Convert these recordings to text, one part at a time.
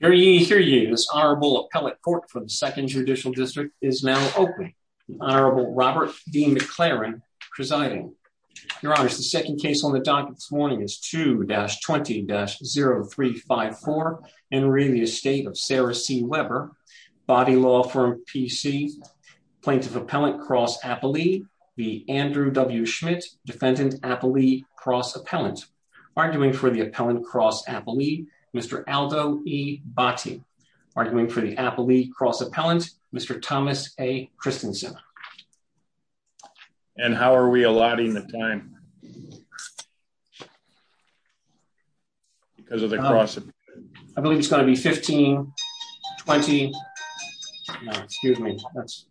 Hear ye, hear ye. This Honorable Appellate Court for the Second Judicial District is now open. Honorable Robert D. McLaren presiding. Your Honor, the second case on the docket this morning is 2-20-0354 in re Estate of Sarah C. Weber, body law firm PC, plaintiff appellant cross appellee, the Andrew W. Schmidt defendant appellee cross appellant. Arguing for the appellant cross appellee, Mr. Aldo E. Botti. Arguing for the appellee cross appellant, Mr. Thomas A. Christensen. And how are we allotting the time? Because of the cross. I believe it's going to be 15-20. Excuse me, that's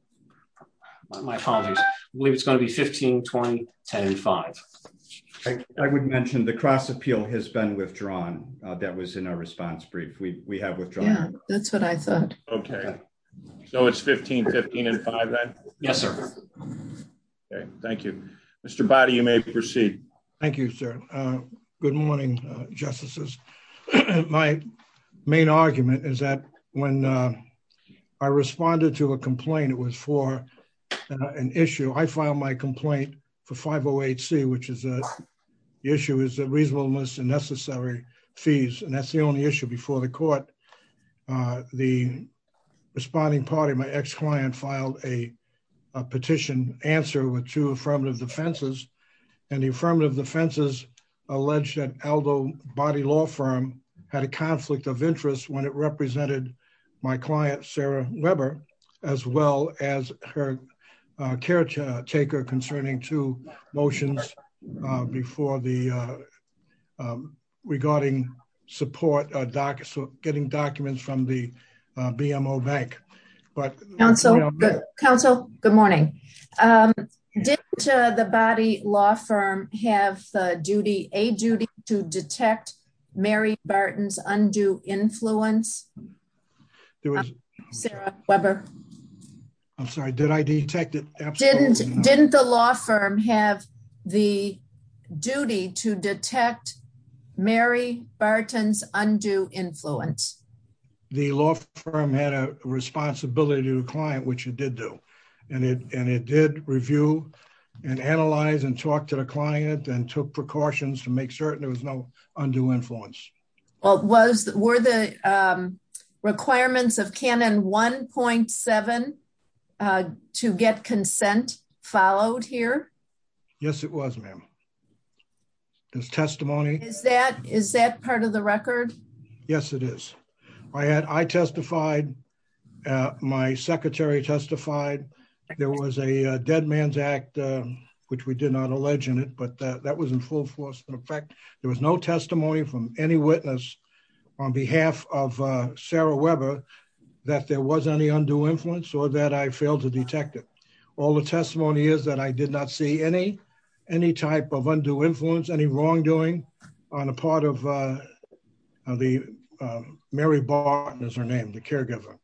my apologies. I believe it's going to be 15-20-10-5. I would mention the cross appeal has been withdrawn. That was in our response brief. We have withdrawn. Yeah, that's what I thought. Okay, so it's 15-15-5 then? Yes, sir. Okay, thank you. Mr. Botti, you may proceed. Thank you, sir. Good morning, justices. My main argument is that when I responded to a complaint, it was for an issue. I filed my That's the only issue before the court. The responding party, my ex-client, filed a petition answer with two affirmative defenses. And the affirmative defenses alleged that Aldo Botti Law Firm had a conflict of interest when it represented my client, Sarah Weber, as well as her caretaker concerning two motions regarding getting documents from the BMO Bank. Counsel, good morning. Did the Botti Law Firm have a duty to detect Mary Barton's undue influence? Sarah Weber? I'm sorry, did I detect it? Absolutely not. Didn't the law firm have the duty to detect Mary Barton's undue influence? The law firm had a responsibility to the client, which it did do. And it did review and analyze and talk to the client and took precautions to make certain there was no undue influence. Well, were the requirements of Canon 1.7 to get consent followed here? Yes, it was, ma'am. There's testimony. Is that part of the record? Yes, it is. I testified. My secretary testified. There was a dead man's act, which we did not allege in it, that was in full force and effect. There was no testimony from any witness on behalf of Sarah Weber that there was any undue influence or that I failed to detect it. All the testimony is that I did not see any type of undue influence, any wrongdoing on the part of Mary Barton, as her name, the caregiver.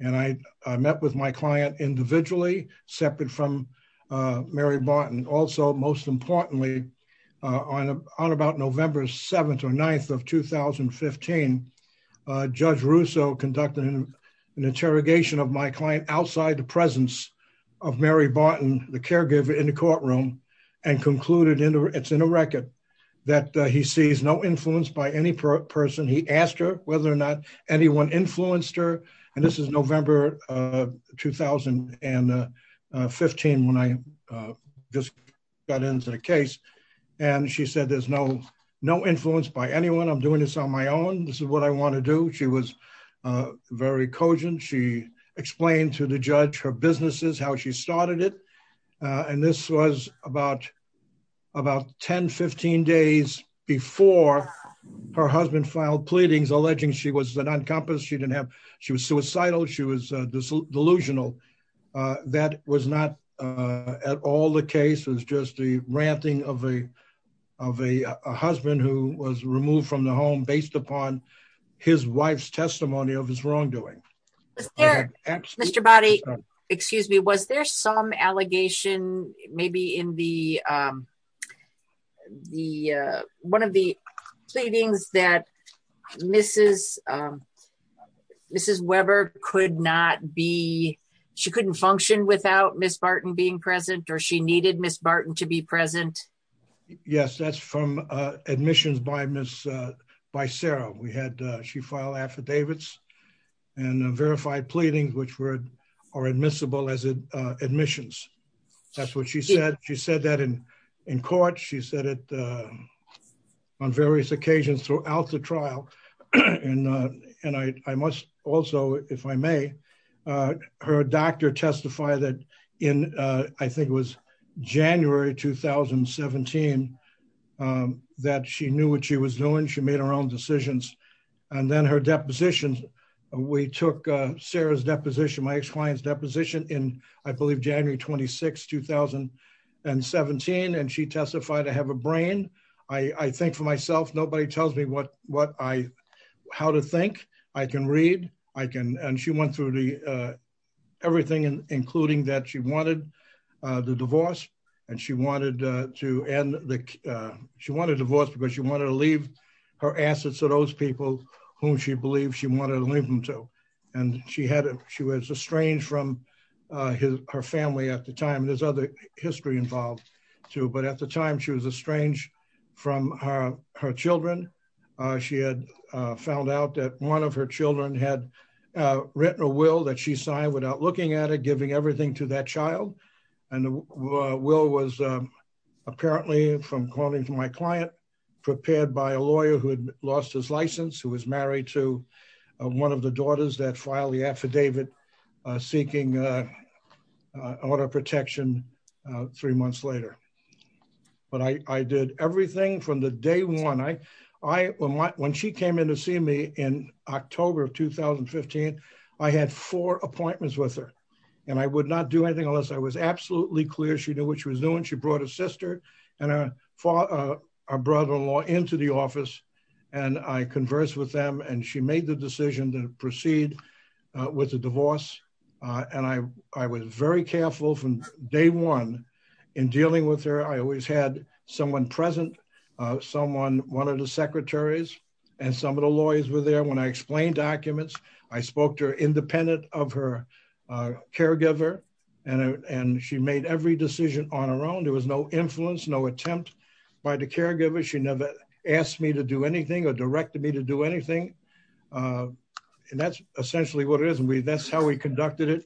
And I met with my client individually, separate from Mary Barton. Also, most importantly, on about November 7th or 9th of 2015, Judge Russo conducted an interrogation of my client outside the presence of Mary Barton, the caregiver in the courtroom, and concluded, it's in a record, that he sees no influence by any person. He asked her whether or not there was any influence. She said there's no influence by anyone. I'm doing this on my own. This is what I want to do. She was very cogent. She explained to the judge, her businesses, how she started it. And this was about 10, 15 days before her husband filed pleadings alleging she was an uncompensated. She was suicidal. She was delusional. That was not at all the case. It's just the ranting of a husband who was removed from the home based upon his wife's testimony of his wrongdoing. Mr. Boddy, excuse me, was there some allegation, maybe in the, the, one of the pleadings that Mrs. Weber could not be, she couldn't function without Ms. Barton being present or she needed Ms. Barton to be present? Yes, that's from admissions by Ms., by Sarah. We had, she filed affidavits and verified pleadings, which were, are admissible as admissions. That's what she said. She said that in, in court. She said it on various occasions throughout the trial. And, and I, I must also, if I may, her doctor testified that in, I think it was January, 2017, that she knew what she was doing. She made her own decisions. And then her depositions, we took Sarah's deposition, my ex-client's deposition in, I believe January 26, 2017. And she testified to have a brain. I think for myself, nobody tells me what, what I, how to think. I can read. I can, and she went through the, everything, including that she wanted the divorce and she wanted to end the, she wanted a divorce because she wanted to leave her assets to those people whom she believed she wanted to leave them to. And she had, she was estranged from his, her family at the time. There's other history involved too, but at the time she was estranged from her, her children. She had found out that one of her children had written a will that she signed without looking at it, giving everything to that child. And the will was apparently from calling from my client, prepared by a lawyer who had lost his license, who was married to one of the daughters that filed the affidavit seeking auto protection three months later. But I did everything from the day one. I, I, when she came in to see me in October of 2015, I had four appointments with her and I would not do anything unless I was absolutely clear. She knew what she was doing. She brought her sister and her father, her brother-in-law into the office and I conversed with them and she made the decision to proceed with the divorce. And I, I was very careful from day one in dealing with her. I always had someone present, someone, one of the secretaries and some of the lawyers were there. When I explained documents, I spoke to her independent of her caregiver and, and she made every decision on her own. There was no influence, no attempt by the caregiver. She never asked me to do anything or directed me to do anything. And that's essentially what it is. And we, that's how we conducted it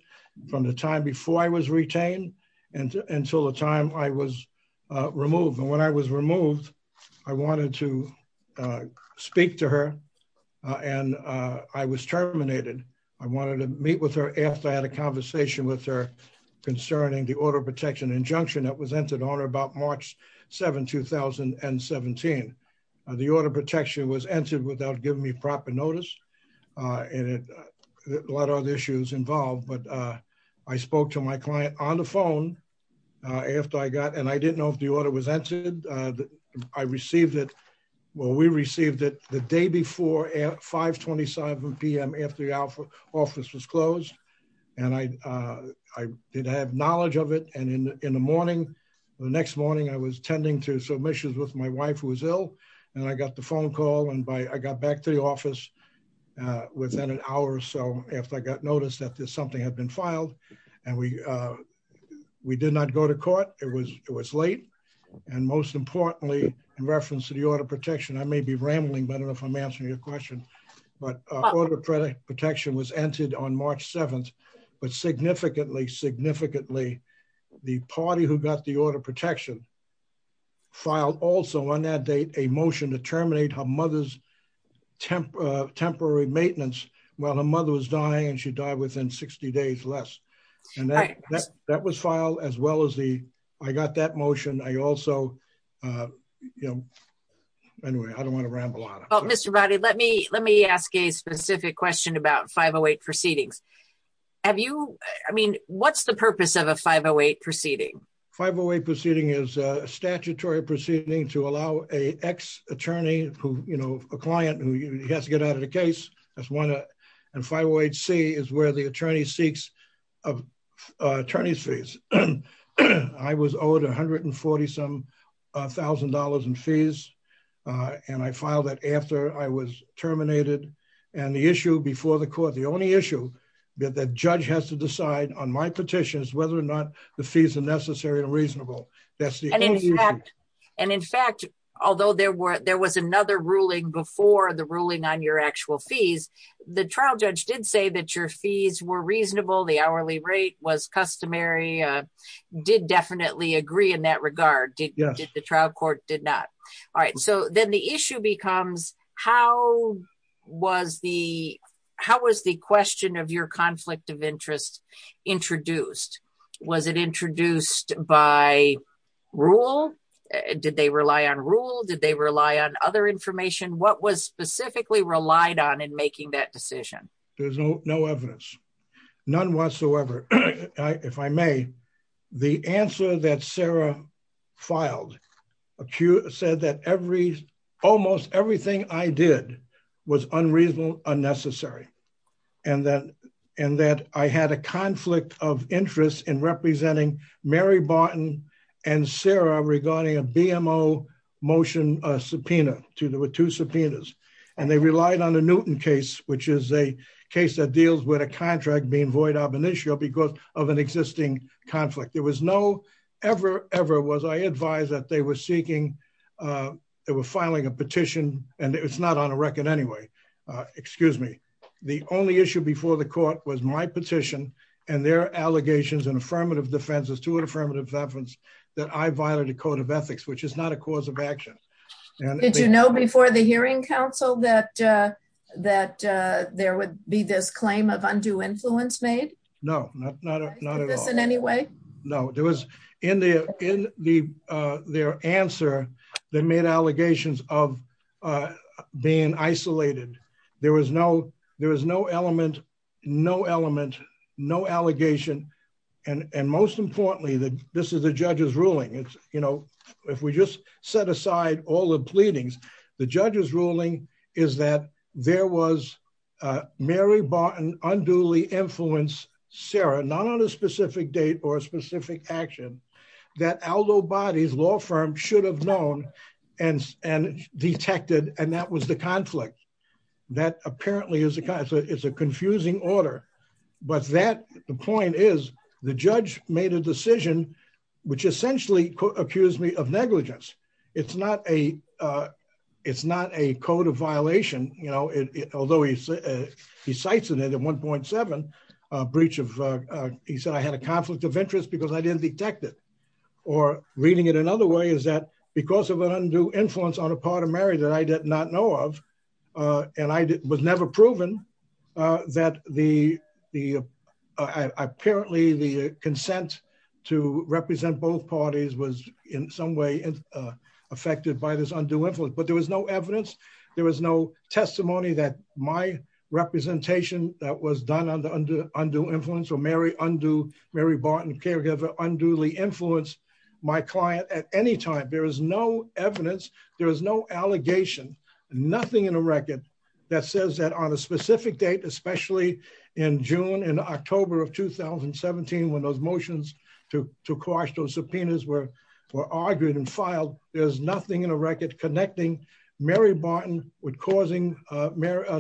from the time before I was retained and until the time I was removed. And when I was removed, I wanted to speak to her and I was terminated. I wanted to meet with her after I had a conversation with her concerning the auto protection injunction that was entered on her about March 7, 2017. The auto protection was entered without giving me proper notice and a lot of other issues involved. But I spoke to my client on the phone after I got, and I didn't know if the order was entered. I received it, well, we received it the day before at 5.25 PM after the office was closed. And I, I did have knowledge of it. And in the morning, the next morning, I was tending to submissions with my wife who was ill. And I got the phone call and by, I got back to the office within an hour or so after I got noticed that there's something had been filed. And we, we did not go to court. It was, it was late. And most importantly, in reference to the auto protection, I may be rambling, but I don't know if I'm answering your question, but auto protection was entered on March 7th, but significantly, significantly, the party who got the auto protection filed also on that date, a motion to terminate her mother's temporary maintenance while her mother was dying and she died within 60 days less. And that was filed as well as the, I got that motion. I also, you know, anyway, I don't want to ramble on. Well, Mr. Roddy, let me, let me ask a specific question about 508 proceedings. Have you, I mean, what's the purpose of a 508 proceeding? 508 proceeding is a statutory proceeding to allow a ex attorney who, you know, a client who has to get out of the case. That's one. And 508C is where the attorney seeks attorney's fees. I was owed 140 some thousand dollars in fees. And I filed that after I was terminated and the issue before the court, the only issue that the judge has to decide on my petition is whether or not the fees are necessary and reasonable. And in fact, although there were, there was another ruling before the ruling on your actual fees, the trial judge did say that your fees were reasonable. The hourly rate was customary, did definitely agree in that regard. Did the trial court did not. All right. So then the issue becomes how was the, how was the question of your conflict of interest introduced? Was it introduced by rule? Did they rely on rule? Did they rely on other information? What was specifically relied on in making that decision? There's no, no evidence, none whatsoever. If I may, the answer that Sarah filed accused said that every, almost everything I did was unreasonable, unnecessary. And that, and that I had a conflict of interest in representing Mary Barton and Sarah regarding a BMO motion, a subpoena to the two subpoenas. And they relied on a Newton case, which is a case that deals with a contract being void of initial because of an existing conflict. There was no ever, ever was I advised that they were seeking, they were filing a petition and it's not on a record anyway. Excuse me. The only issue before the court was my petition and their allegations and affirmative defenses to an affirmative evidence that I violated code of ethics, which is not a cause of action. Did you know before the hearing council that that there would be this claim of undue influence made? No, not at all. In any way? No, there was in the, in the, their answer that made allegations of being isolated. There was no, there was no element, no element, no allegation. And, and most importantly, that this is the judge's ruling. It's, you know, if we just set aside all the pleadings, the judge's ruling is that there was a Mary Barton unduly influence Sarah, not on a specific date or a specific action that Aldo bodies law firm should have known and, and detected. And that was the conflict that apparently is a kind of, it's a confusing order, but that the point is the judge made a violation, you know, it, although he, he sites in it at 1.7, a breach of he said, I had a conflict of interest because I didn't detect it or reading it another way is that because of an undue influence on a part of Mary that I did not know of. And I was never proven that the, the, apparently the consent to represent both parties was in some way affected by this undue influence, but there was no evidence. There was no testimony that my representation that was done on the under undue influence or Mary undo Mary Barton caregiver unduly influence my client at any time. There was no evidence. There was no allegation, nothing in a record that says that on a specific date, especially in June and October of 2017, when those motions to, to coerce those subpoenas were, were argued and filed. There's nothing in a record connecting Mary Barton would causing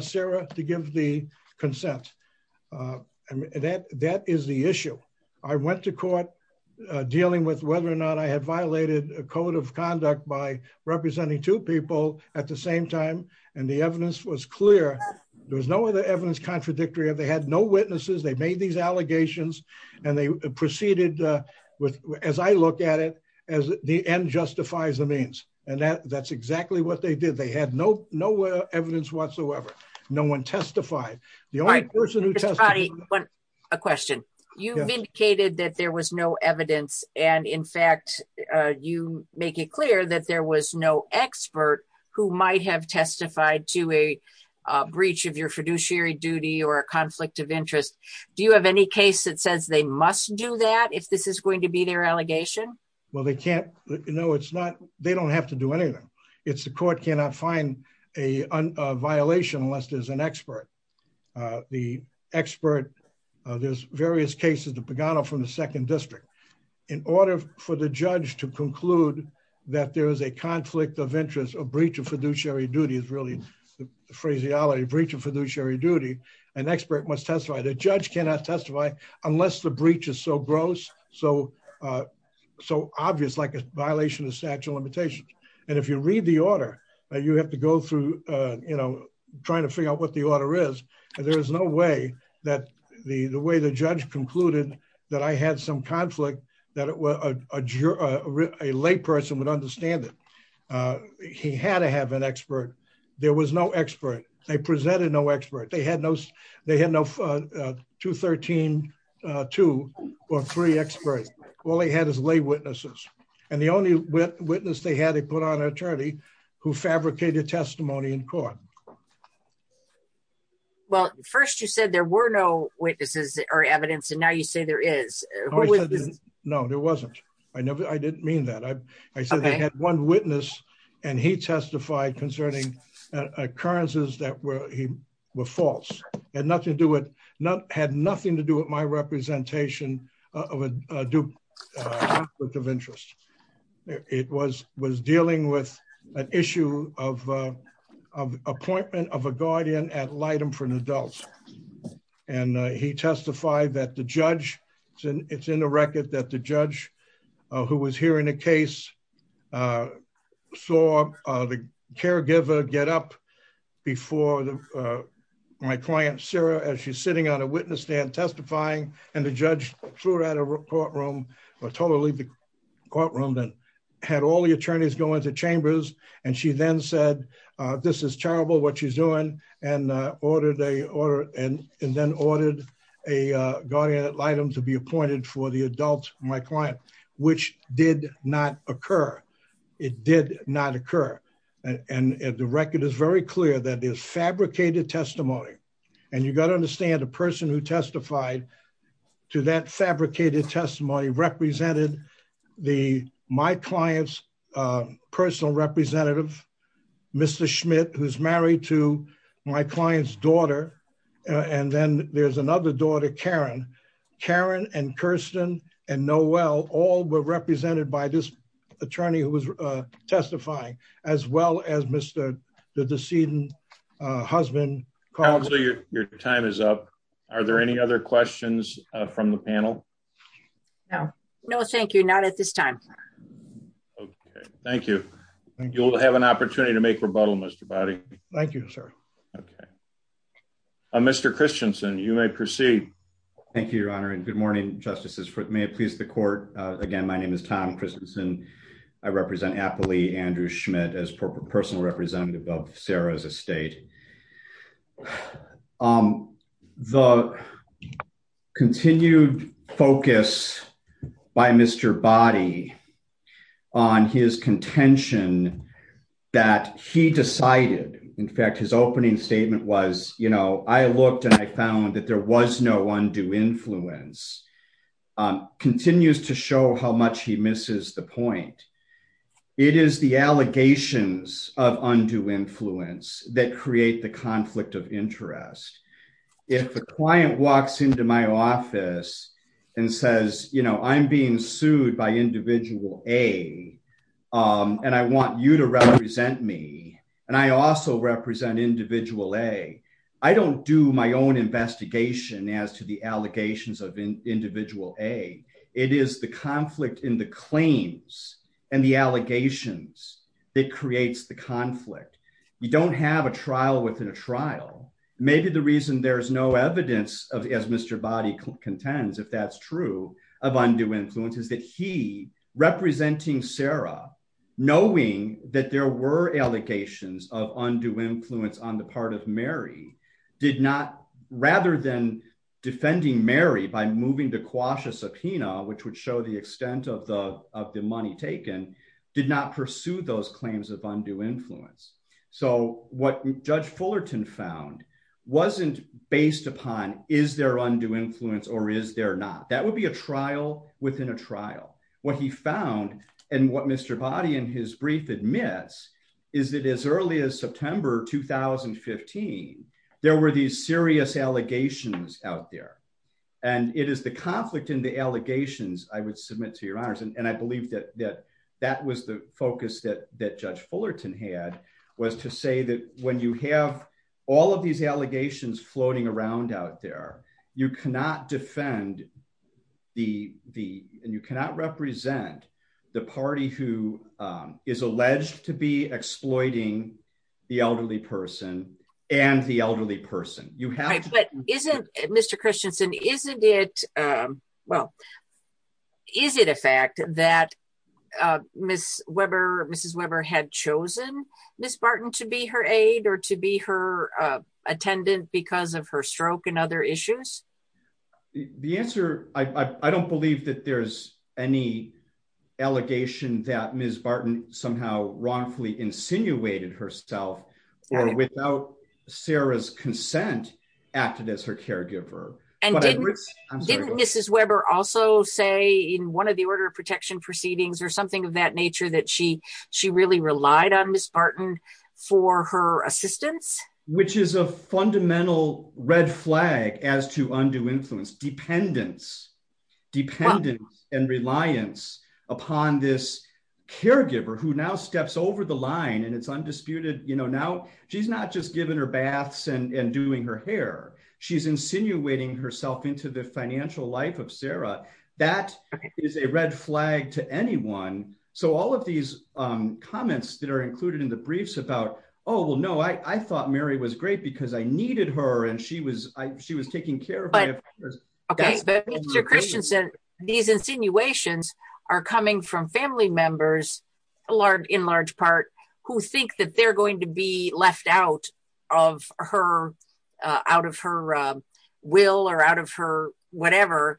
Sarah to give the consent. And that, that is the issue. I went to court dealing with whether or not I had violated a code of conduct by representing two people at the same time. And the evidence was clear. There was no other evidence contradictory. They had no with, as I look at it, as the end justifies the means. And that that's exactly what they did. They had no, no evidence whatsoever. No one testified. The only person who tested a question, you've indicated that there was no evidence. And in fact, you make it clear that there was no expert who might have testified to a breach of your fiduciary duty or a conflict of interest. Do you have any case that says they must do that if this is going to be their allegation? Well, they can't, you know, it's not, they don't have to do anything. It's the court cannot find a violation unless there's an expert, the expert, there's various cases, the Pagano from the second district in order for the judge to conclude that there was a conflict of interest or breach of fiduciary duty is really the phraseology breach of fiduciary duty. An expert must testify that cannot testify unless the breach is so gross. So so obvious, like a violation of statute of limitations. And if you read the order that you have to go through you know, trying to figure out what the order is, there is no way that the way the judge concluded that I had some conflict that a lay person would understand that he had to have an expert. There was no expert. They presented no expert. They had no, they had no 213-2 or three experts. All they had is lay witnesses. And the only witness they had, they put on an attorney who fabricated testimony in court. Well, first you said there were no witnesses or evidence and now you say there is. No, there wasn't. I never, I didn't mean that. I said they had one witness and he testified concerning occurrences that were he were false and nothing to do with not had nothing to do with my representation of a dupe of interest. It was dealing with an issue of appointment of a guardian at light and for an adult. And he testified that the judge it's in the record that the judge who was hearing a case saw the caregiver get up before my client, Sarah, as she's sitting on a witness stand testifying and the judge threw her out of courtroom or told her to leave the courtroom then had all the attorneys go into chambers. And she then said, this is terrible what she's doing and ordered a order and then ordered a guardian at light to be appointed for the adult, my client, which did not occur. It did not occur. And the record is very clear that there's fabricated testimony and you got to understand a person who testified to that fabricated testimony represented the, my client's personal representative, Mr. Schmidt, who's married to my client's daughter. And then there's another daughter, Karen, Karen and Kirsten and Noel all were represented by this attorney who was testifying as well as Mr. the decedent husband. Your time is up. Are there any other questions from the panel? No, no, thank you. Not at this time. Okay. Thank you. You'll have an opportunity to make rebuttal Mr. body. Thank you, sir. Okay. Mr. Christianson, you may proceed. Thank you, your honor. And good morning, justices for it may please the court. Again, my name is Tom Christensen. I represent happily Andrew Schmidt as personal representative of a state. The continued focus by Mr. body on his contention that he decided, in fact, his opening statement was, you know, I looked and I found that there was no one do influence on continues to show how much he misses the point. It is the allegations of undue influence that create the conflict of interest. If the client walks into my office and says, you know, I'm being sued by individual a and I want you to represent me. And I also represent individual a, I don't do my own investigation as to the allegations of individual a, it is the conflict in the claims and the allegations that creates the conflict. You don't have a trial within a trial. Maybe the reason there's no evidence of as Mr. body contends, if that's true of undue influence is that he representing Sarah, knowing that there were allegations of undue influence on the part of Mary did not rather than defending Mary by moving to quash a subpoena, which would show the extent of the, of the money taken, did not pursue those claims of undue influence. So what judge Fullerton found wasn't based upon, is there undue influence or is there not, that would be a trial within a trial. What he found and what Mr. body in his brief admits is that as early as September, 2015, there were these serious allegations out there. And it is the conflict in the allegations I would submit to your honors. And I believe that, that, that was the focus that, that judge Fullerton had was to say that when you have all of these allegations floating around out there, you cannot defend the, the, and you cannot represent the party who is alleged to be exploiting the elderly person and the elderly person. But isn't Mr. Christensen, isn't it well, is it a fact that Ms. Weber, Mrs. Weber had chosen Ms. Barton to be her aid or to be her attendant because of her stroke and other issues? The answer, I don't believe that there's any allegation that Ms. Barton somehow wrongfully insinuated herself or without Sarah's consent acted as her caregiver. And didn't, didn't Mrs. Weber also say in one of the order of protection proceedings or something of that nature that she, she really relied on Ms. Barton for her assistance? Which is a fundamental red flag as to undue influence dependence, dependence and reliance upon this caregiver who now steps over the line and it's undisputed, you know, now she's not just giving her baths and doing her hair. She's insinuating herself into the financial life of Sarah. That is a red flag to anyone. So all of these comments that are included in the briefs about, oh, well, no, I thought Mary was great because I needed her and she was, I, she was taking care of me. Okay, but Mr. Christensen, these insinuations are coming from family members, a large, in large part, who think that they're going to be left out of her, out of her will or out of her whatever.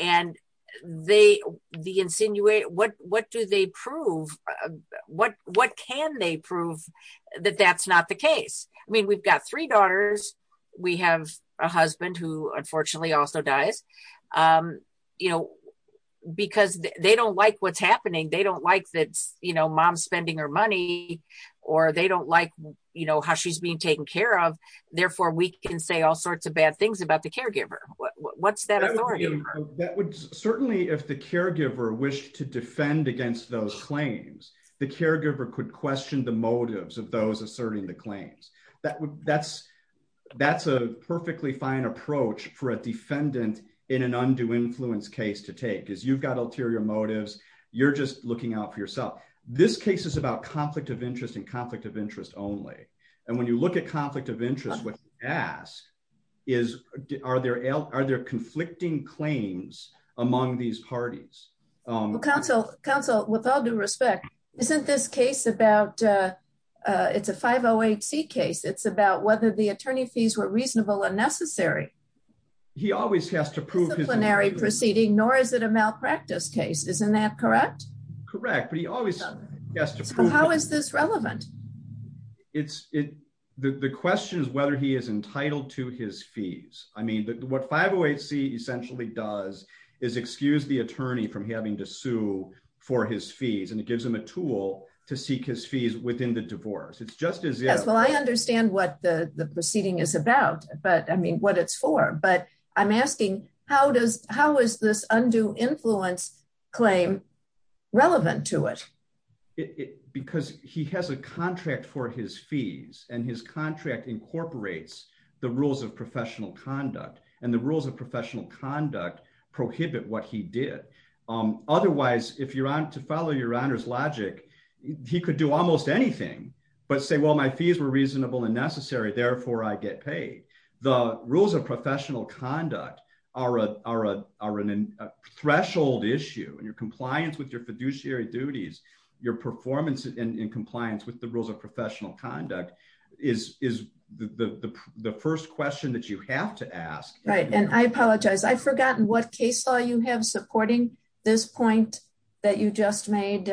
And they, the insinuation, what, what do they prove? What, what can they that that's not the case? I mean, we've got three daughters. We have a husband who unfortunately also dies, you know, because they don't like what's happening. They don't like that, you know, mom's spending her money or they don't like, you know, how she's being taken care of. Therefore, we can say all sorts of bad things about the caregiver. What's that authority? That would certainly, if the caregiver wished to defend against those claims, the caregiver could question the motives of those asserting the claims. That would, that's, that's a perfectly fine approach for a defendant in an undue influence case to take, is you've got ulterior motives. You're just looking out for yourself. This case is about conflict of interest and conflict of interest only. And when you look at conflict of interest, what you ask is, are there, are there conflicting claims among these parties? Counsel, counsel, with all due respect, isn't this case about, it's a 508 C case. It's about whether the attorney fees were reasonable or necessary. He always has to prove disciplinary proceeding, nor is it a malpractice case. Isn't that correct? Correct. But he always has to prove how is this relevant? It's it, the question is whether he is entitled to his fees. I mean, what 508 C essentially does is excuse the attorney from having to sue for his fees. And it gives him a tool to seek his fees within the divorce. It's just as well. I understand what the proceeding is about, but I mean what it's for, but I'm asking how does, how is this undue influence claim relevant to it? Because he has a contract for his fees and his contract incorporates the rules of professional conduct and the rules of professional conduct prohibit what he did. Otherwise, if you're on to follow your honor's logic, he could do almost anything, but say, well, my fees were reasonable and necessary. Therefore I get paid. The rules of professional conduct are a, are a, are an threshold issue and your compliance with your fiduciary duties, your performance in compliance with the rules of professional conduct is, is the, the, the, the first question that you have to ask. Right. And I apologize. I forgotten what case law you have supporting this point that you just made.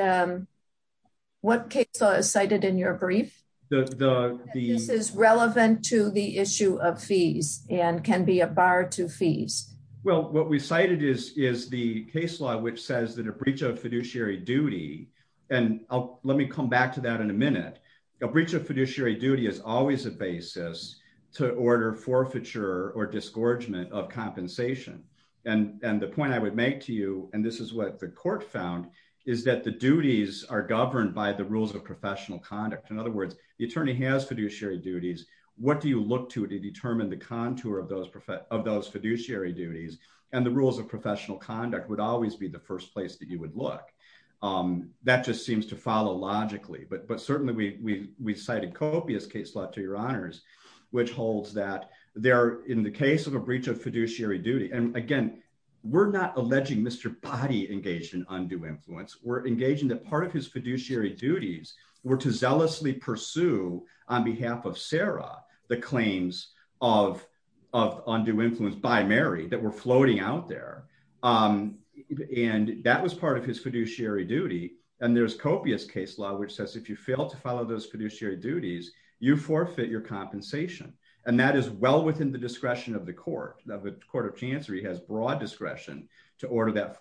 What case law is cited in your brief, the, the, the, this is relevant to the issue of fees and can be a bar to fees. Well, what we cited is, is the case law, which says that a breach of fiduciary duty. And I'll, let me come back to that in a minute. A breach of fiduciary duty is always a basis to order forfeiture or disgorgement of compensation. And, and the point I would make to you, and this is what the court found is that the duties are governed by the rules of professional conduct. In other words, the attorney has fiduciary duties. What do you look to, to determine the contour of those, of those fiduciary duties and the rules of professional conduct would always be the first place that you would look. That just seems to follow logically, but, but certainly we, we, we cited copious case law to your honors, which holds that they're in the case of a breach of fiduciary duty. And again, we're not alleging Mr. Body engaged in undue influence. We're engaging that part of his fiduciary duties were to zealously pursue on behalf of Sarah, the claims of, of undue influence by Mary that were floating out there. And that was part of his fiduciary duty. And there's copious case law, which says, if you fail to follow those fiduciary duties, you forfeit your compensation. And that is well within the discretion of the court of the court of chancery has broad discretion to order that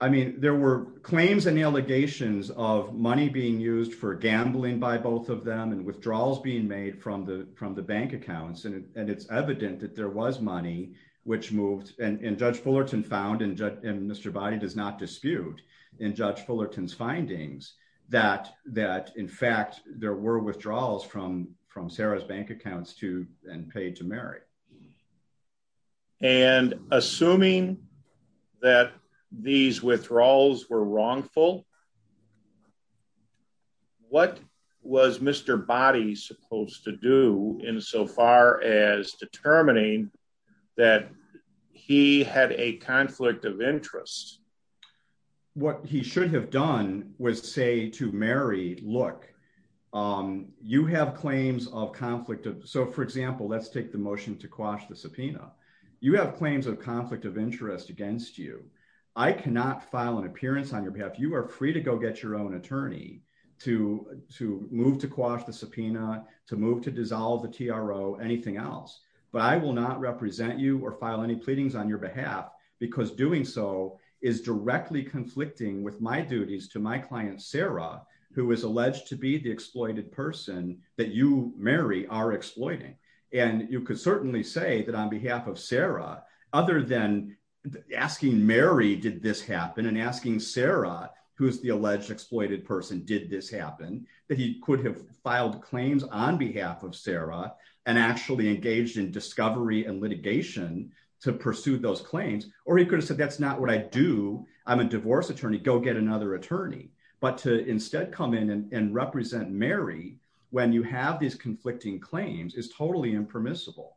I mean, there were claims and allegations of money being used for gambling by both of them and withdrawals being made from the, from the bank accounts. And it's evident that there was money which moved and judge Fullerton found and judge and Mr. Body does not dispute in judge Fullerton's findings that, that in fact, there were withdrawals from, from Sarah's bank accounts to, and paid to and assuming that these withdrawals were wrongful. What was Mr. Body supposed to do in so far as determining that he had a conflict of interest. What he should have done was say to Mary, look, you have claims of conflict. So for example, let's take the motion to quash the subpoena. You have claims of conflict of interest against you. I cannot file an appearance on your behalf. You are free to go get your own attorney to, to move, to quash the subpoena, to move, to dissolve the TRO anything else, but I will not represent you or file any pleadings on your behalf because doing so is directly conflicting with my duties to my client, Sarah, who was alleged to be the exploited person that Mary are exploiting. And you could certainly say that on behalf of Sarah, other than asking Mary, did this happen and asking Sarah, who's the alleged exploited person, did this happen, that he could have filed claims on behalf of Sarah and actually engaged in discovery and litigation to pursue those claims, or he could have said, that's not what I do. I'm a divorce attorney, go get another attorney, but to instead come in and represent Mary, when you have these conflicting claims is totally impermissible.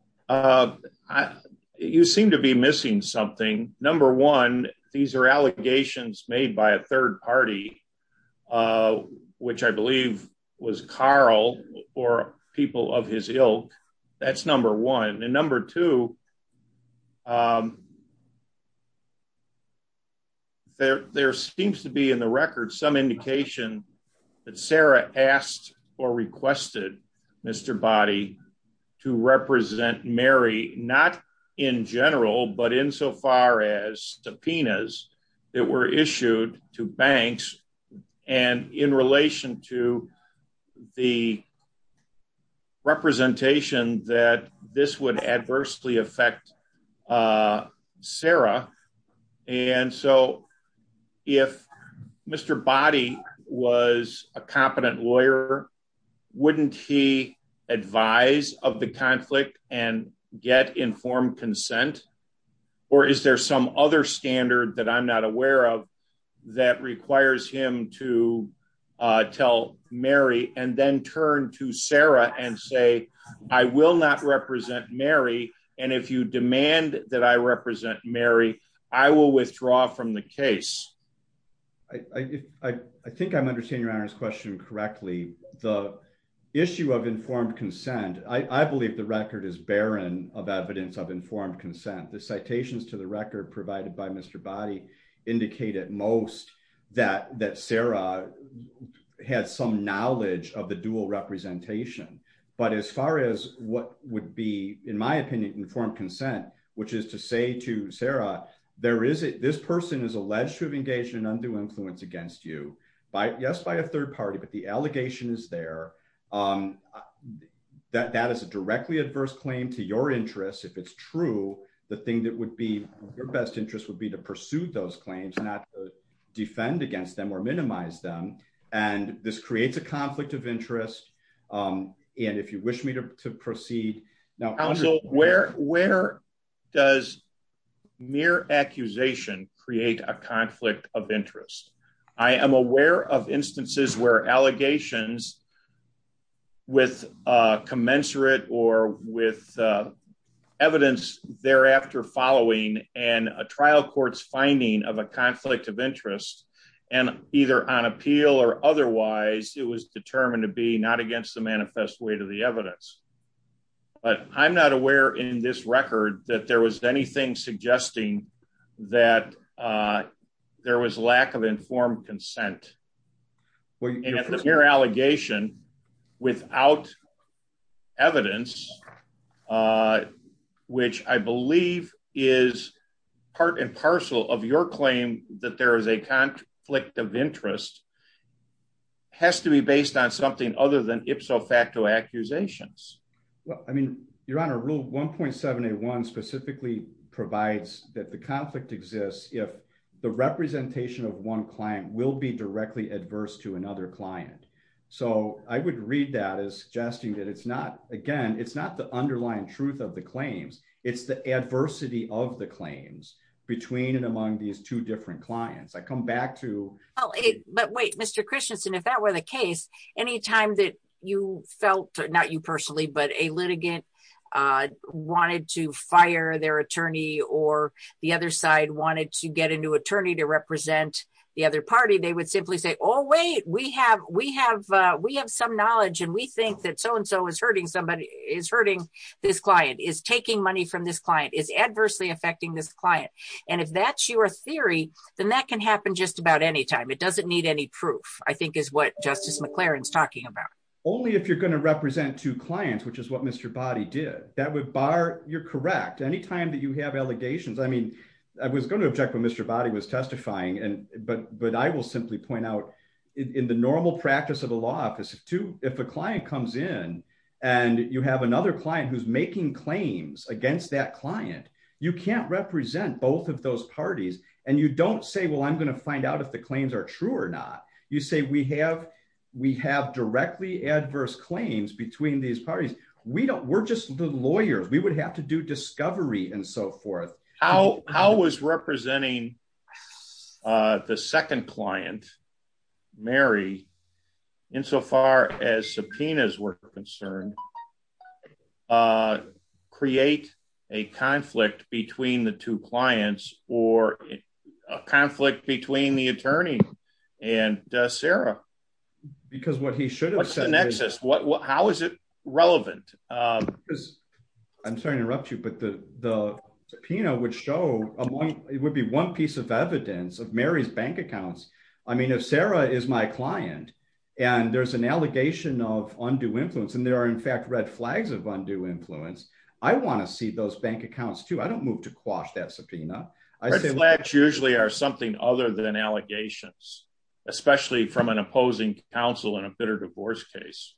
You seem to be missing something. Number one, these are allegations made by a third party, which I believe was Carl or people of his ilk. That's number one. And number two, there seems to be in the record, some indication that Sarah asked or requested Mr. Boddy to represent Mary, not in general, but in so far as subpoenas that were issued to banks. And in that, this would adversely affect Sarah. And so if Mr. Boddy was a competent lawyer, wouldn't he advise of the conflict and get informed consent? Or is there some other standard that I'm not aware of, that requires him to tell Mary and then turn to Sarah and say, I will not represent Mary. And if you demand that I represent Mary, I will withdraw from the case. I think I'm understanding your Honor's question correctly. The issue of informed consent, I believe the record is barren of evidence of informed consent. The citations to the record provided by Mr. Boddy indicate at most that Sarah had some knowledge of the dual representation. But as far as what would be, in my opinion, informed consent, which is to say to Sarah, this person is alleged to have engaged in undue influence against you. Yes, by a third party, but the allegation is there. That is a directly adverse claim to your interests. If it's true, the thing that would be your best interest would be to pursue those claims, not defend against them or minimize them. And this creates a conflict of interest. And if you wish me to proceed. Where does mere accusation create a conflict of interest? I am aware of instances where allegations with commensurate or with evidence thereafter following and a trial court's finding of a either on appeal or otherwise, it was determined to be not against the manifest weight of the evidence. But I'm not aware in this record that there was anything suggesting that there was lack of informed consent. Your allegation without evidence, which I believe is part and parcel of your claim that there is a conflict of interest has to be based on something other than ipso facto accusations. Well, I mean, you're on a rule 1.781 specifically provides that the conflict exists if the representation of one client will be directly adverse to another client. So I would read that as suggesting that it's not again, it's not the underlying truth of the claims. It's the adversity of the claims between and among these two different clients. I come back to it. But wait, Mr. Christensen, if that were the case, anytime that you felt not you personally, but a litigant wanted to fire their attorney, or the other side wanted to get a new attorney to represent the other party, they would simply say, Oh, wait, we have we have, we have some knowledge. And we think that so and so is hurting somebody is hurting this client is taking money from this client is adversely affecting this client. And if that's your theory, then that can happen just about anytime. It doesn't need any proof, I think is what Justice McLaren is talking about. Only if you're going to represent two clients, which is what Mr. body did that would bar you're correct anytime that you have allegations. I mean, I was going to object when Mr. body was testifying and but but I will simply point out in the normal practice of a law office to if a client comes in, and you have another client who's making claims against that client, you can't represent both of those parties. And you don't say, well, I'm going to find out if the claims are true or not. You say we have, we have directly adverse claims between these parties. We don't we're just the lawyers, we would have to do discovery and so forth. How how was representing the second client, Mary, insofar as subpoenas were concerned, create a conflict between the two clients or a conflict between the attorney and Sarah? Because what he should have said next is what how is it relevant? Because I'm sorry to interrupt you, but the the subpoena would show it would be one piece of evidence of Mary's bank accounts. I mean, if Sarah is my client, and there's an allegation of undue influence, and there are in fact, red flags of undue influence, I want to see those bank accounts too. I don't move to quash that subpoena. I say flags usually are something other than allegations, especially from an opposing counsel in a bitter divorce case.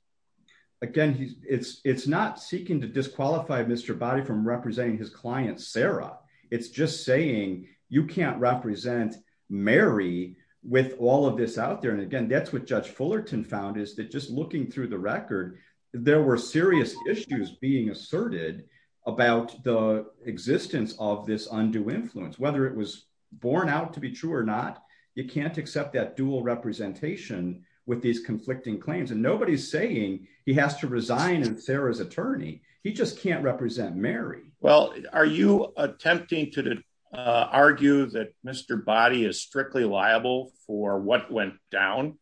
Again, he's it's it's not seeking to disqualify Mr. body from representing his client Sarah. It's just saying you can't represent Mary with all of this out there. And again, that's what Judge Fullerton found is that just looking through the record, there were serious issues being asserted about the existence of this undue influence, whether it was born out to be true or not. You can't accept that dual representation with these conflicting claims. And nobody's saying he has to resign and Sarah's attorney, he just can't represent Mary. Well, are you attempting to argue that Mr. body is strictly liable for what went down?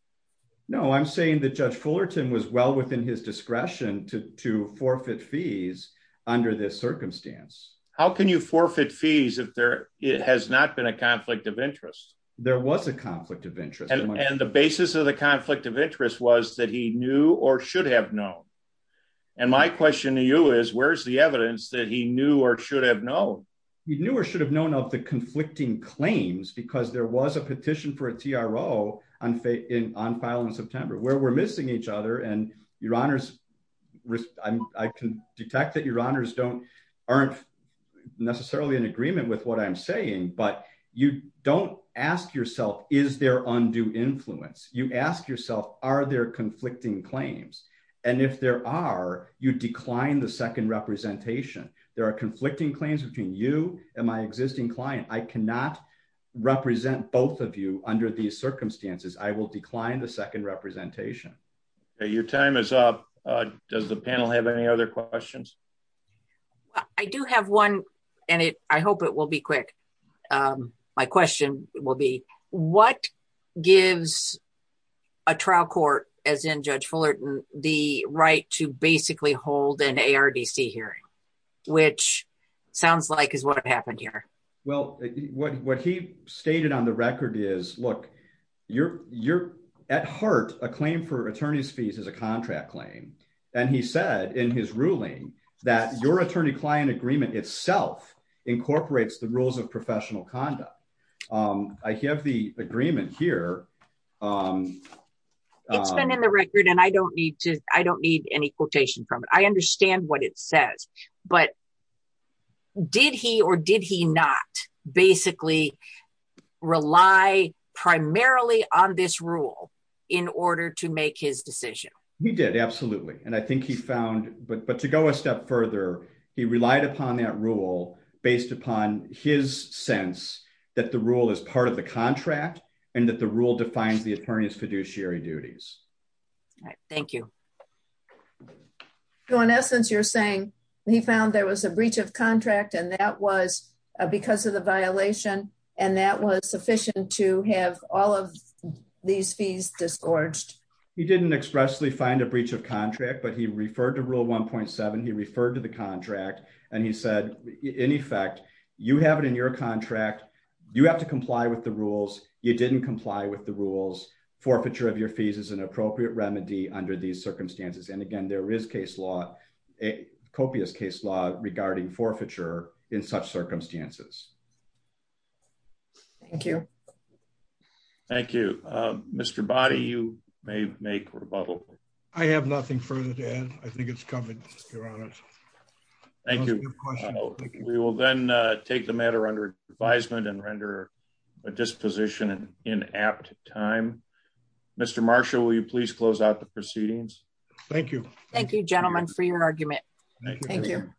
No, I'm saying that Judge Fullerton was well within his discretion to to forfeit fees under this circumstance. How can you forfeit fees if there has not been a conflict of interest, there was a conflict of interest. And the basis of the conflict of interest was that he knew or should have known. And my question to you is, where's the evidence that he knew or should have known? He knew or should have known of the conflicting claims because there was a petition for a TRO on faith in on file in September where we're missing each other and your honors. I can detect that your honors don't aren't necessarily in agreement with what I'm saying. But you don't ask yourself, is there undue influence? You ask yourself, are there conflicting claims? And if there are, you decline the second representation, there are conflicting claims between you and my existing client. I cannot represent both of you under these circumstances, I will decline the second representation. Your time is up. Does the panel have any other questions? Well, I do have one, and I hope it will be quick. My question will be, what gives a trial court, as in Judge Fullerton, the right to basically hold an ARDC hearing, which sounds like is what happened here? Well, what he stated on the record is, look, you're at heart, a claim for that your attorney client agreement itself incorporates the rules of professional conduct. I have the agreement here. It's been in the record, and I don't need to, I don't need any quotation from it. I understand what it says. But did he or did he not basically rely primarily on this rule in order to make his decision? He did. Absolutely. And I think he found but to go a step further, he relied upon that rule based upon his sense that the rule is part of the contract, and that the rule defines the attorney's fiduciary duties. Thank you. So in essence, you're saying he found there was a breach of contract, and that was because of the violation, and that was sufficient to have all of these fees disgorged. He didn't expressly find a breach of contract, but he referred to rule 1.7. He referred to the contract. And he said, in effect, you have it in your contract, you have to comply with the rules, you didn't comply with the rules, forfeiture of your fees is an appropriate remedy under these circumstances. And again, there is case law, a copious case law regarding forfeiture in such circumstances. Thank you. Thank you. Mr. Boddy, you may make rebuttal. I have nothing further to add. I think it's covered. Your Honor. Thank you. We will then take the matter under advisement and render a disposition in apt time. Mr. Marshall, will you please close out the proceedings? Thank you. Thank you, gentlemen, for your argument. Thank you.